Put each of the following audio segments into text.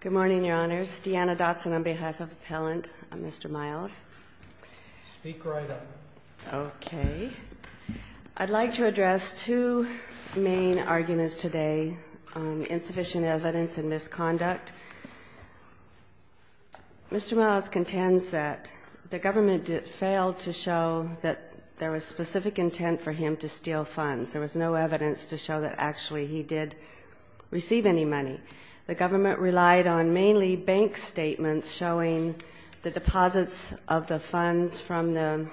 Good morning, Your Honors. Deanna Dotson on behalf of Appellant Mr. Miles. Speak right up. Okay. I'd like to address two main arguments today on insufficient evidence and misconduct. Mr. Miles contends that the government failed to show that there was specific intent for him to steal funds. There was no evidence to show that actually he did receive any money. The government relied on mainly bank statements showing the deposits of the funds from the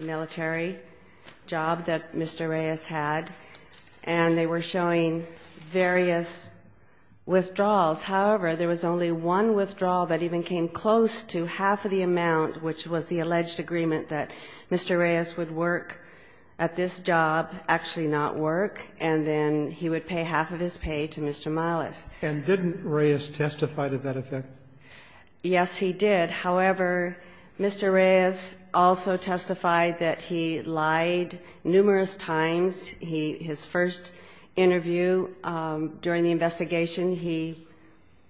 military job that Mr. Reyes had, and they were showing various withdrawals. However, there was only one withdrawal that even came close to half of the amount, which was the alleged agreement that Mr. Reyes would work at this job, actually not work, and then he would pay half of his pay to Mr. Miles. And didn't Reyes testify to that effect? Yes, he did. However, Mr. Reyes also testified that he lied numerous times. His first interview during the investigation, he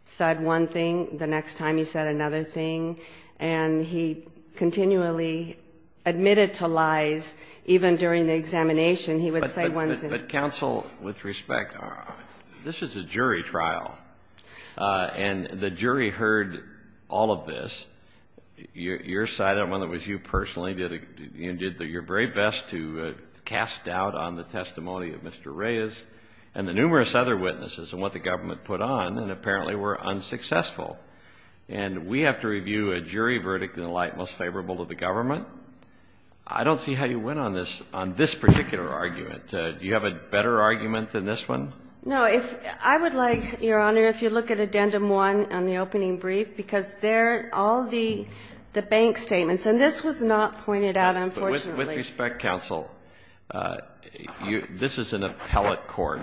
said one thing. The next time, he said another thing. And he continually admitted to lies even during the examination. He would say one thing. But, counsel, with respect, this is a jury trial, and the jury heard all of this. Your side, whether it was you personally, did your very best to cast doubt on the testimony of Mr. Reyes and the numerous other witnesses and what the government put on, and apparently were unsuccessful. And we have to review a jury verdict in a light most favorable to the government? I don't see how you went on this, on this particular argument. Do you have a better argument than this one? No. I would like, Your Honor, if you look at Addendum 1 on the opening brief, because there are all the bank statements. And this was not pointed out, unfortunately. With respect, counsel, this is an appellate court,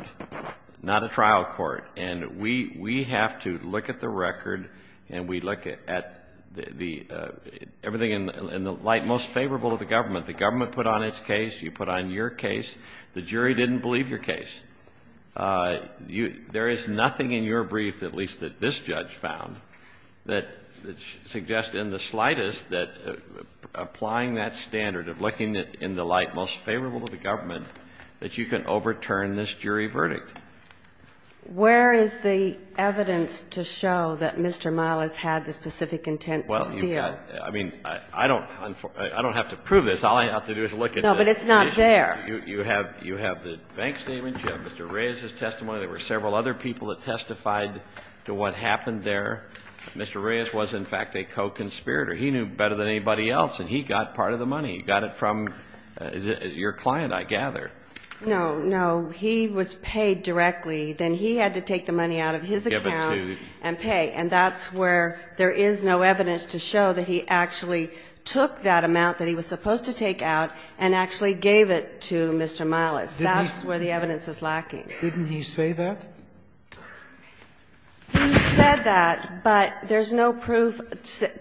not a trial court. And we have to look at the record and we look at the – everything in the light most favorable to the government. The government put on its case. You put on your case. The jury didn't believe your case. There is nothing in your brief, at least that this judge found, that suggests in the slightest that applying that standard of looking in the light most favorable to the government, that you can overturn this jury verdict. Where is the evidence to show that Mr. Miles had the specific intent to steal? Well, I mean, I don't have to prove this. All I have to do is look at the issue. No, but it's not there. You have the bank statement. You have Mr. Reyes's testimony. There were several other people that testified to what happened there. Mr. Reyes was, in fact, a co-conspirator. He knew better than anybody else, and he got part of the money. He got it from your client, I gather. No, no. If he was paid directly, then he had to take the money out of his account and pay. And that's where there is no evidence to show that he actually took that amount that he was supposed to take out and actually gave it to Mr. Miles. That's where the evidence is lacking. Didn't he say that? He said that, but there's no proof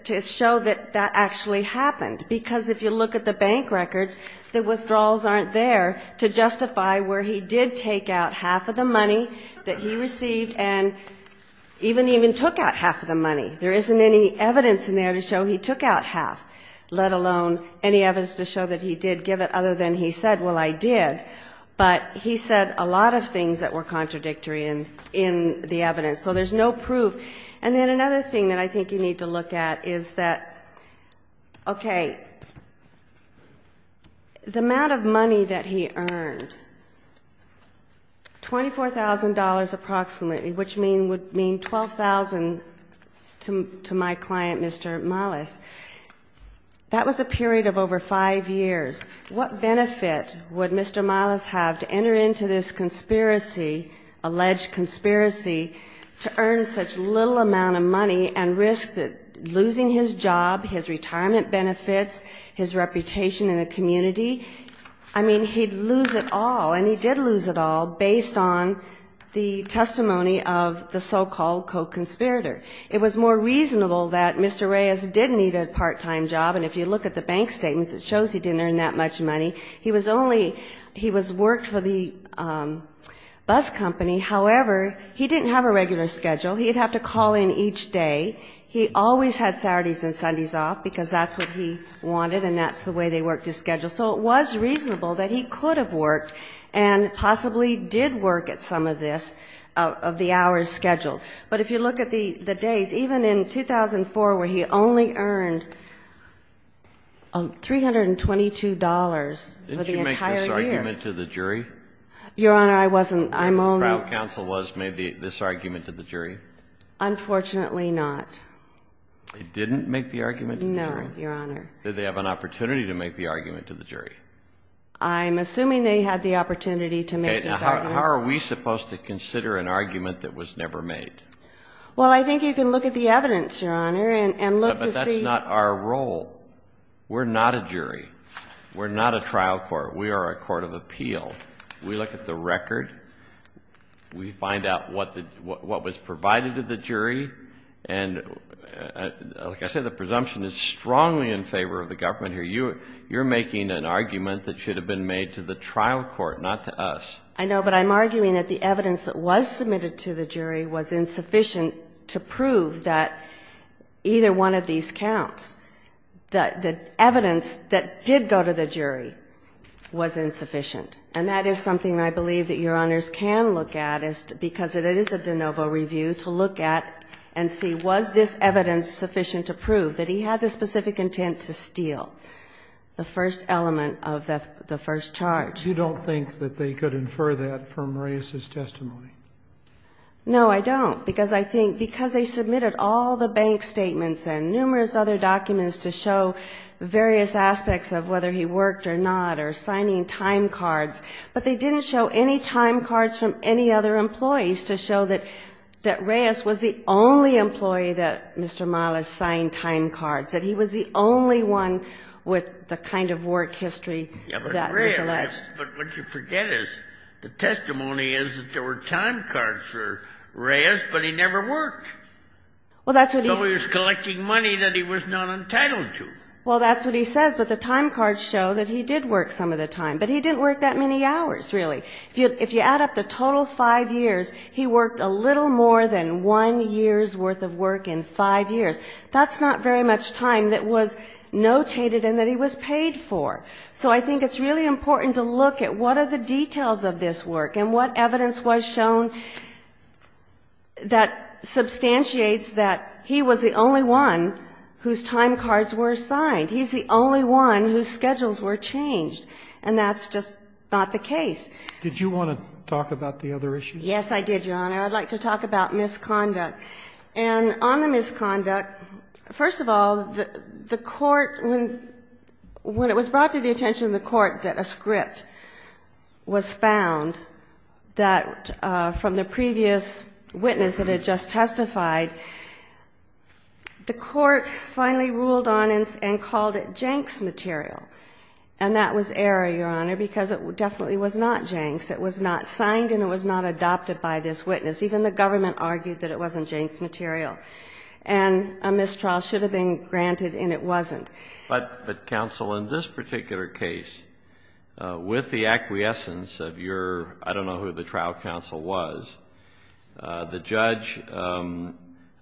to show that that actually happened. Because if you look at the bank records, the withdrawals aren't there to justify where he did take out half of the money that he received and even took out half of the money. There isn't any evidence in there to show he took out half, let alone any evidence to show that he did give it other than he said, well, I did. But he said a lot of things that were contradictory in the evidence. So there's no proof. And then another thing that I think you need to look at is that, okay, the amount of money that he earned, $24,000 approximately, which would mean $12,000 to my client, Mr. Miles, that was a period of over five years. What benefit would Mr. Miles have to enter into this conspiracy, alleged conspiracy to earn such little amount of money and risk losing his job, his retirement benefits, his reputation in the community? I mean, he'd lose it all, and he did lose it all based on the testimony of the so-called co-conspirator. It was more reasonable that Mr. Reyes did need a part-time job, and if you look at the bank statements, it shows he didn't earn that much money. He was only he was worked for the bus company. However, he didn't have a regular schedule. He'd have to call in each day. He always had Saturdays and Sundays off because that's what he wanted, and that's the way they worked his schedule. So it was reasonable that he could have worked and possibly did work at some of this, of the hours scheduled. But if you look at the days, even in 2004 where he only earned $322 for the entire year. Didn't you make this argument to the jury? Your Honor, I wasn't. I'm only. Do you know who the trial counsel was who made this argument to the jury? Unfortunately not. They didn't make the argument to the jury? No, Your Honor. Did they have an opportunity to make the argument to the jury? I'm assuming they had the opportunity to make these arguments. How are we supposed to consider an argument that was never made? Well, I think you can look at the evidence, Your Honor, and look to see. But that's not our role. We're not a trial court. We are a court of appeal. We look at the record. We find out what was provided to the jury. And like I said, the presumption is strongly in favor of the government here. You're making an argument that should have been made to the trial court, not to us. I know. But I'm arguing that the evidence that was submitted to the jury was insufficient to prove that either one of these counts. The evidence that did go to the jury was insufficient. And that is something I believe that Your Honors can look at, because it is a de novo review, to look at and see was this evidence sufficient to prove that he had the specific intent to steal the first element of the first charge. You don't think that they could infer that from Reyes's testimony? No, I don't, because I think because they submitted all the bank statements and numerous other documents to show various aspects of whether he worked or not or signing time cards. But they didn't show any time cards from any other employees to show that Reyes was the only employee that Mr. Malish signed time cards, that he was the only one with the kind of work history that was alleged. But what you forget is the testimony is that there were time cards for Reyes, but he never worked. Well, that's what he says. So he was collecting money that he was not entitled to. Well, that's what he says. But the time cards show that he did work some of the time. But he didn't work that many hours, really. If you add up the total five years, he worked a little more than one year's worth of work in five years. That's not very much time that was notated and that he was paid for. So I think it's really important to look at what are the details of this work and what evidence was shown that substantiates that he was the only one whose time cards were signed. He's the only one whose schedules were changed. And that's just not the case. Did you want to talk about the other issue? Yes, I did, Your Honor. I'd like to talk about misconduct. And on the misconduct, first of all, the court, when it was brought to the attention of the court that a script was found that from the previous witness that had just and called it Jenks material. And that was error, Your Honor, because it definitely was not Jenks. It was not signed and it was not adopted by this witness. Even the government argued that it wasn't Jenks material. And a mistrial should have been granted and it wasn't. But, Counsel, in this particular case, with the acquiescence of your, I don't know who the trial counsel was, the judge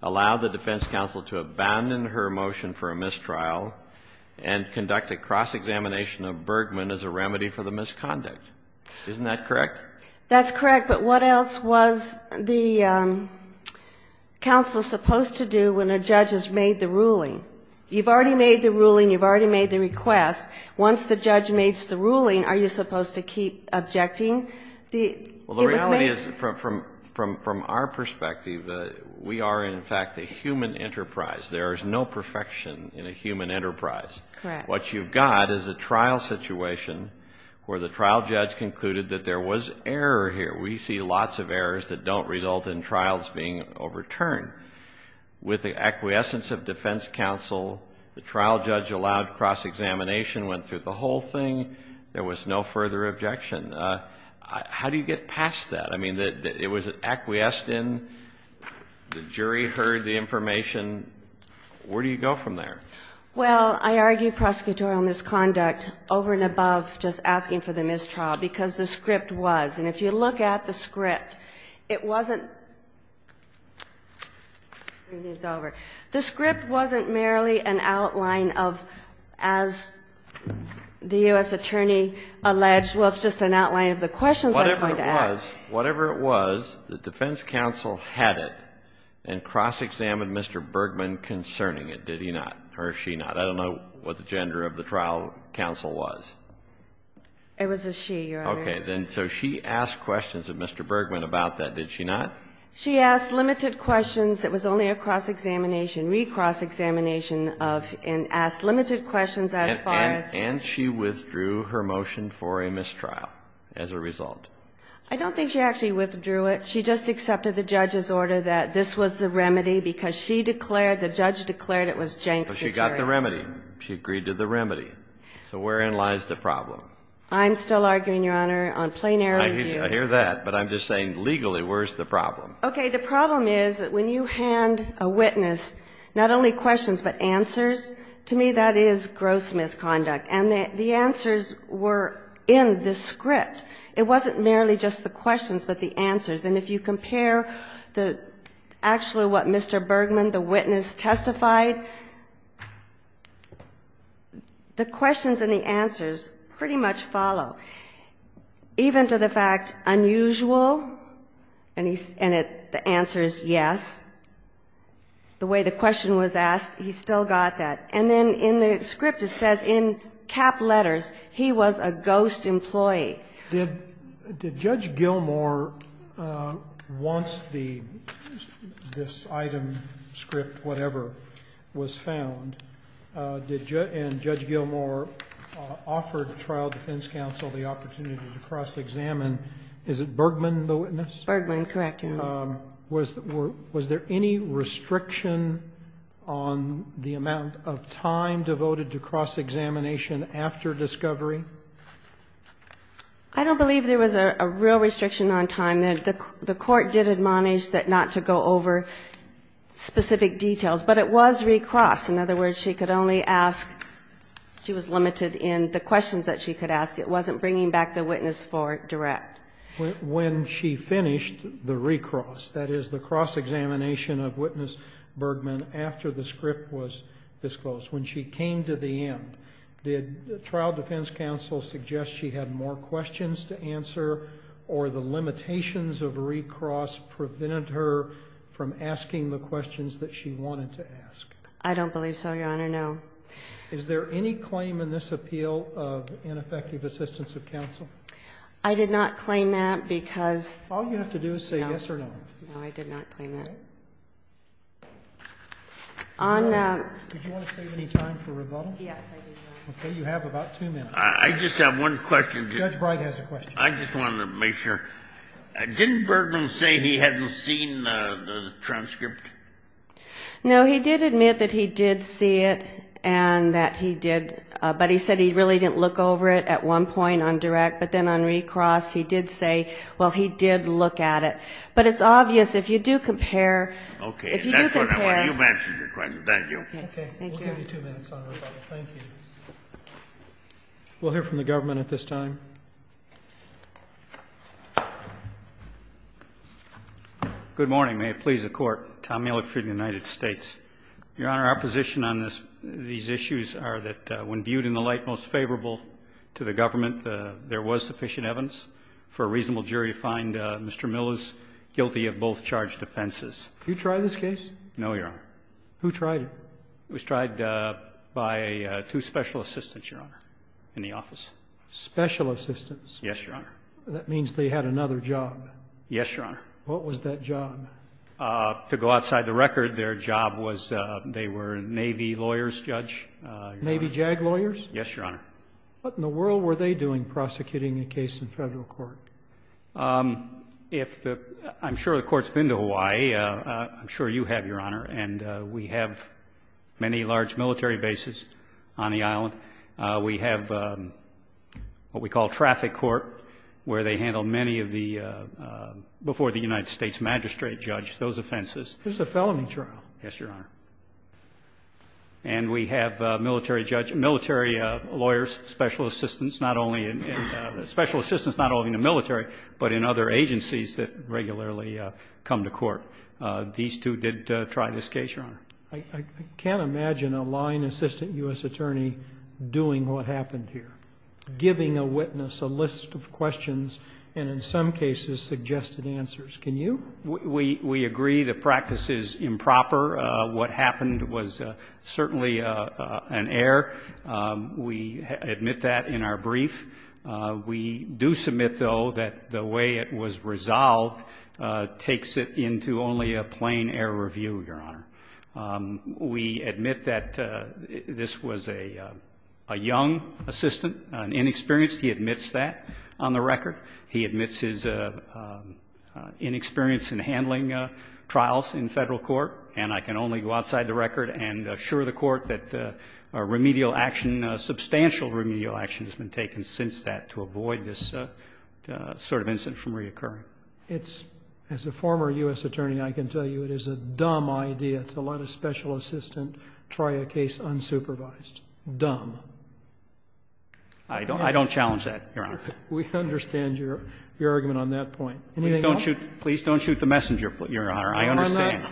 allowed the defense counsel to abandon her motion for a mistrial and conduct a cross-examination of Bergman as a remedy for the misconduct. Isn't that correct? That's correct. But what else was the counsel supposed to do when a judge has made the ruling? You've already made the ruling. You've already made the request. Once the judge makes the ruling, are you supposed to keep objecting? Well, the reality is, from our perspective, we are, in fact, a human enterprise. There is no perfection in a human enterprise. Correct. What you've got is a trial situation where the trial judge concluded that there was error here. We see lots of errors that don't result in trials being overturned. With the acquiescence of defense counsel, the trial judge allowed cross-examination, went through the whole thing. There was no further objection. How do you get past that? I mean, it was an acquiescence. The jury heard the information. Where do you go from there? Well, I argue prosecutorial misconduct over and above just asking for the mistrial because the script was. And if you look at the script, it wasn't the script wasn't merely an outline of, as the U.S. attorney alleged, well, it's just an outline of the questions I'm going to ask. Because whatever it was, the defense counsel had it and cross-examined Mr. Bergman concerning it, did he not or she not? I don't know what the gender of the trial counsel was. It was a she, Your Honor. Okay. Then so she asked questions of Mr. Bergman about that, did she not? She asked limited questions. It was only a cross-examination, re-cross-examination of and asked limited questions as far as. And she withdrew her motion for a mistrial as a result. I don't think she actually withdrew it. She just accepted the judge's order that this was the remedy because she declared the judge declared it was jank security. But she got the remedy. She agreed to the remedy. So wherein lies the problem? I'm still arguing, Your Honor, on plenary review. I hear that. But I'm just saying legally, where's the problem? Okay. The problem is that when you hand a witness not only questions but answers, to me, that is gross misconduct. And the answers were in the script. It wasn't merely just the questions but the answers. And if you compare actually what Mr. Bergman, the witness, testified, the questions and the answers pretty much follow, even to the fact unusual, and the answer is yes, the way the question was asked, he still got that. And then in the script it says in cap letters, he was a ghost employee. Did Judge Gilmour, once the, this item, script, whatever, was found, and Judge Gilmour offered trial defense counsel the opportunity to cross-examine, is it Bergman, the witness? Bergman, correct, Your Honor. Was there any restriction on the amount of time devoted to cross-examination after discovery? I don't believe there was a real restriction on time. The Court did admonish that not to go over specific details. But it was recrossed. In other words, she could only ask, she was limited in the questions that she could It wasn't bringing back the witness for direct. When she finished the recross, that is the cross-examination of witness Bergman after the script was disclosed, when she came to the end, did trial defense counsel suggest she had more questions to answer, or the limitations of recross prevented her from asking the questions that she wanted to ask? I don't believe so, Your Honor, no. Is there any claim in this appeal of ineffective assistance of counsel? I did not claim that because All you have to do is say yes or no. No, I did not claim that. Okay. Did you want to save any time for rebuttal? Yes, I do, Your Honor. Okay. You have about two minutes. I just have one question. Judge Breyer has a question. I just wanted to make sure. Didn't Bergman say he hadn't seen the transcript? No, he did admit that he did see it and that he did, but he said he really didn't look over it at one point on direct, but then on recross he did say, well, he did look at it. But it's obvious if you do compare Okay. That's what I want. You've answered your question. Thank you. Okay. Thank you. We'll give you two minutes on rebuttal. Thank you. We'll hear from the government at this time. Good morning. May it please the Court. Tom Miller for the United States. Your Honor, our position on these issues are that when viewed in the light most favorable to the government, there was sufficient evidence for a reasonable jury to find Mr. Miller's guilty of both charged offenses. Did you try this case? No, Your Honor. Who tried it? It was tried by two special assistants, Your Honor, in the office. Special assistants? Yes, Your Honor. That means they had another job. Yes, Your Honor. What was that job? To go outside the record, their job was they were Navy lawyers, Judge. Navy JAG lawyers? Yes, Your Honor. What in the world were they doing prosecuting a case in federal court? I'm sure the Court's been to Hawaii. I'm sure you have, Your Honor. And we have many large military bases on the island. We have what we call traffic court, where they handle many of the before the United States magistrate, Judge, those offenses. This is a felony trial. Yes, Your Honor. And we have military lawyers, special assistants, not only in the military, but in other agencies that regularly come to court. These two did try this case, Your Honor. I can't imagine a line assistant U.S. attorney doing what happened here, giving a witness a list of questions and, in some cases, suggested answers. Can you? We agree the practice is improper. What happened was certainly an error. We admit that in our brief. We do submit, though, that the way it was resolved takes it into only a plain error review, Your Honor. We admit that this was a young assistant, inexperienced. He admits that on the record. He admits his inexperience in handling trials in federal court. And I can only go outside the record and assure the Court that remedial action, substantial remedial action has been taken since that to avoid this sort of incident from reoccurring. As a former U.S. attorney, I can tell you it is a dumb idea to let a special assistant try a case unsupervised. Dumb. I don't challenge that, Your Honor. We understand your argument on that point. Anything else? Please don't shoot the messenger, Your Honor. I understand.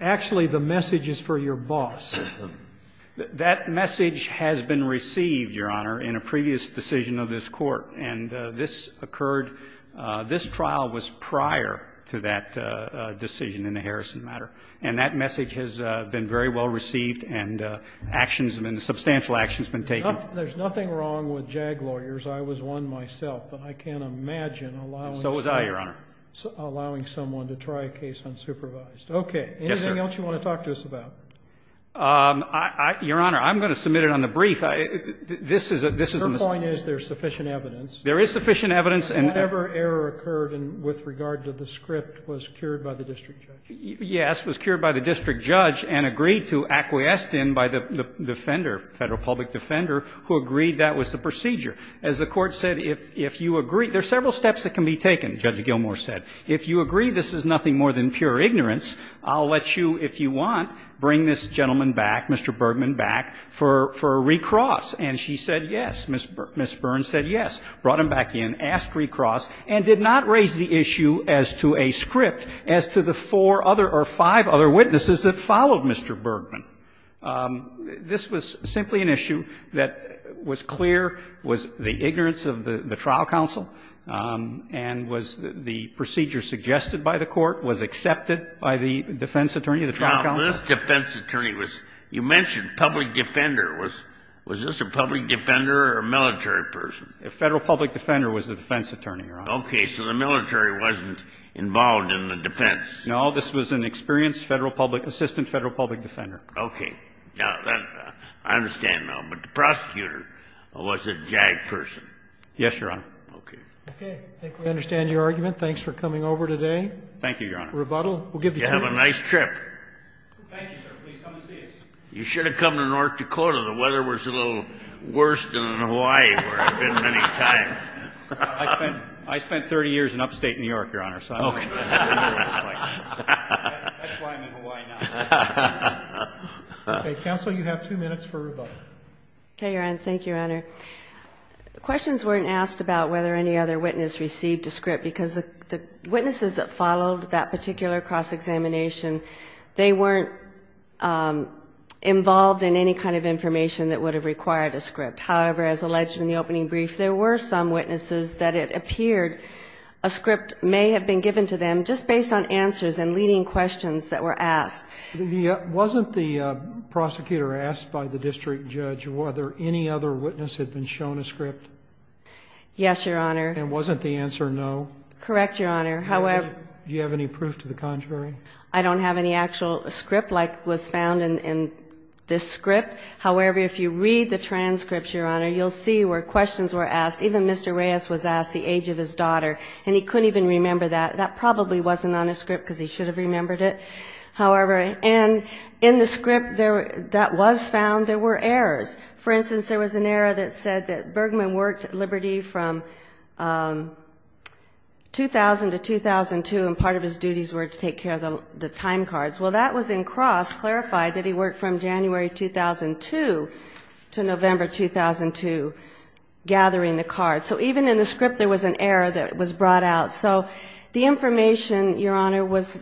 Actually, the message is for your boss. That message has been received, Your Honor, in a previous decision of this Court. And this occurred, this trial was prior to that decision in the Harrison matter. And that message has been very well received and actions, substantial actions have been taken. There's nothing wrong with JAG lawyers. I was one myself. But I can't imagine allowing someone to try a case unsupervised. Okay. Yes, sir. Anything else you want to talk to us about? Your Honor, I'm going to submit it on the brief. This is a mistake. The point is there's sufficient evidence. There is sufficient evidence. And whatever error occurred with regard to the script was cured by the district judge. Yes. It was cured by the district judge and agreed to acquiesce then by the defender, Federal public defender, who agreed that was the procedure. As the Court said, if you agree, there are several steps that can be taken, Judge Gilmour said. If you agree this is nothing more than pure ignorance, I'll let you, if you want, bring this gentleman back, Mr. Bergman, back for a recross. And she said yes. Ms. Burns said yes. Brought him back in, asked recross, and did not raise the issue as to a script as to the four other or five other witnesses that followed Mr. Bergman. This was simply an issue that was clear, was the ignorance of the trial counsel, and was the procedure suggested by the Court, was accepted by the defense attorney, the trial counsel. Well, this defense attorney was, you mentioned public defender. Was this a public defender or a military person? A Federal public defender was the defense attorney, Your Honor. Okay. So the military wasn't involved in the defense. No. This was an experienced Federal public, assistant Federal public defender. Okay. Now, I understand now. But the prosecutor was a JAG person. Yes, Your Honor. Okay. Okay. I think we understand your argument. Thanks for coming over today. Thank you, Your Honor. Rebuttal. We'll give you two minutes. You have a nice trip. Thank you, sir. Please come and see us. You should have come to North Dakota. The weather was a little worse than in Hawaii, where I've been many times. I spent 30 years in upstate New York, Your Honor. Okay. That's why I'm in Hawaii now. Okay. Counsel, you have two minutes for rebuttal. Okay, Your Honor. Thank you, Your Honor. Questions weren't asked about whether any other witness received a script, because the witnesses that followed that particular cross-examination, they weren't involved in any kind of information that would have required a script. However, as alleged in the opening brief, there were some witnesses that it appeared a script may have been given to them just based on answers and leading questions that were asked. Wasn't the prosecutor asked by the district judge whether any other witness had been shown a script? Yes, Your Honor. And wasn't the answer no? Correct, Your Honor. Do you have any proof to the contrary? I don't have any actual script like was found in this script. However, if you read the transcripts, Your Honor, you'll see where questions were asked. Even Mr. Reyes was asked the age of his daughter, and he couldn't even remember that. That probably wasn't on his script, because he should have remembered it. However, in the script that was found, there were errors. For instance, there was an error that said that Bergman worked at Liberty from 2000 to 2002, and part of his duties were to take care of the time cards. Well, that was in cross, clarified that he worked from January 2002 to November 2002, gathering the cards. So even in the script, there was an error that was brought out. So the information, Your Honor, was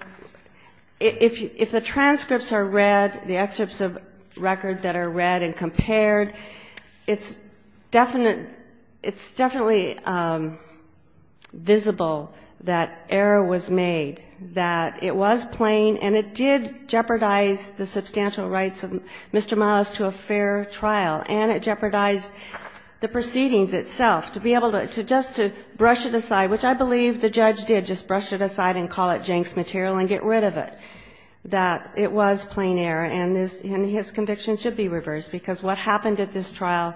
if the transcripts are read, the excerpts of records that are read and compared, it's definitely visible that error was made, that it was plain and it did jeopardize the substantial rights of Mr. Miles to a fair trial, and it jeopardized the proceedings itself. To be able to just to brush it aside, which I believe the judge did just brush it aside and call it jinx material and get rid of it, that it was plain error, and his conviction should be reversed, because what happened at this trial,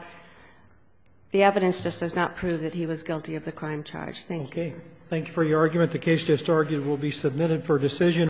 the evidence just does not prove that he was guilty of the crime charge. Thank you. Roberts. Thank you for your argument. The case just argued will be submitted for decision.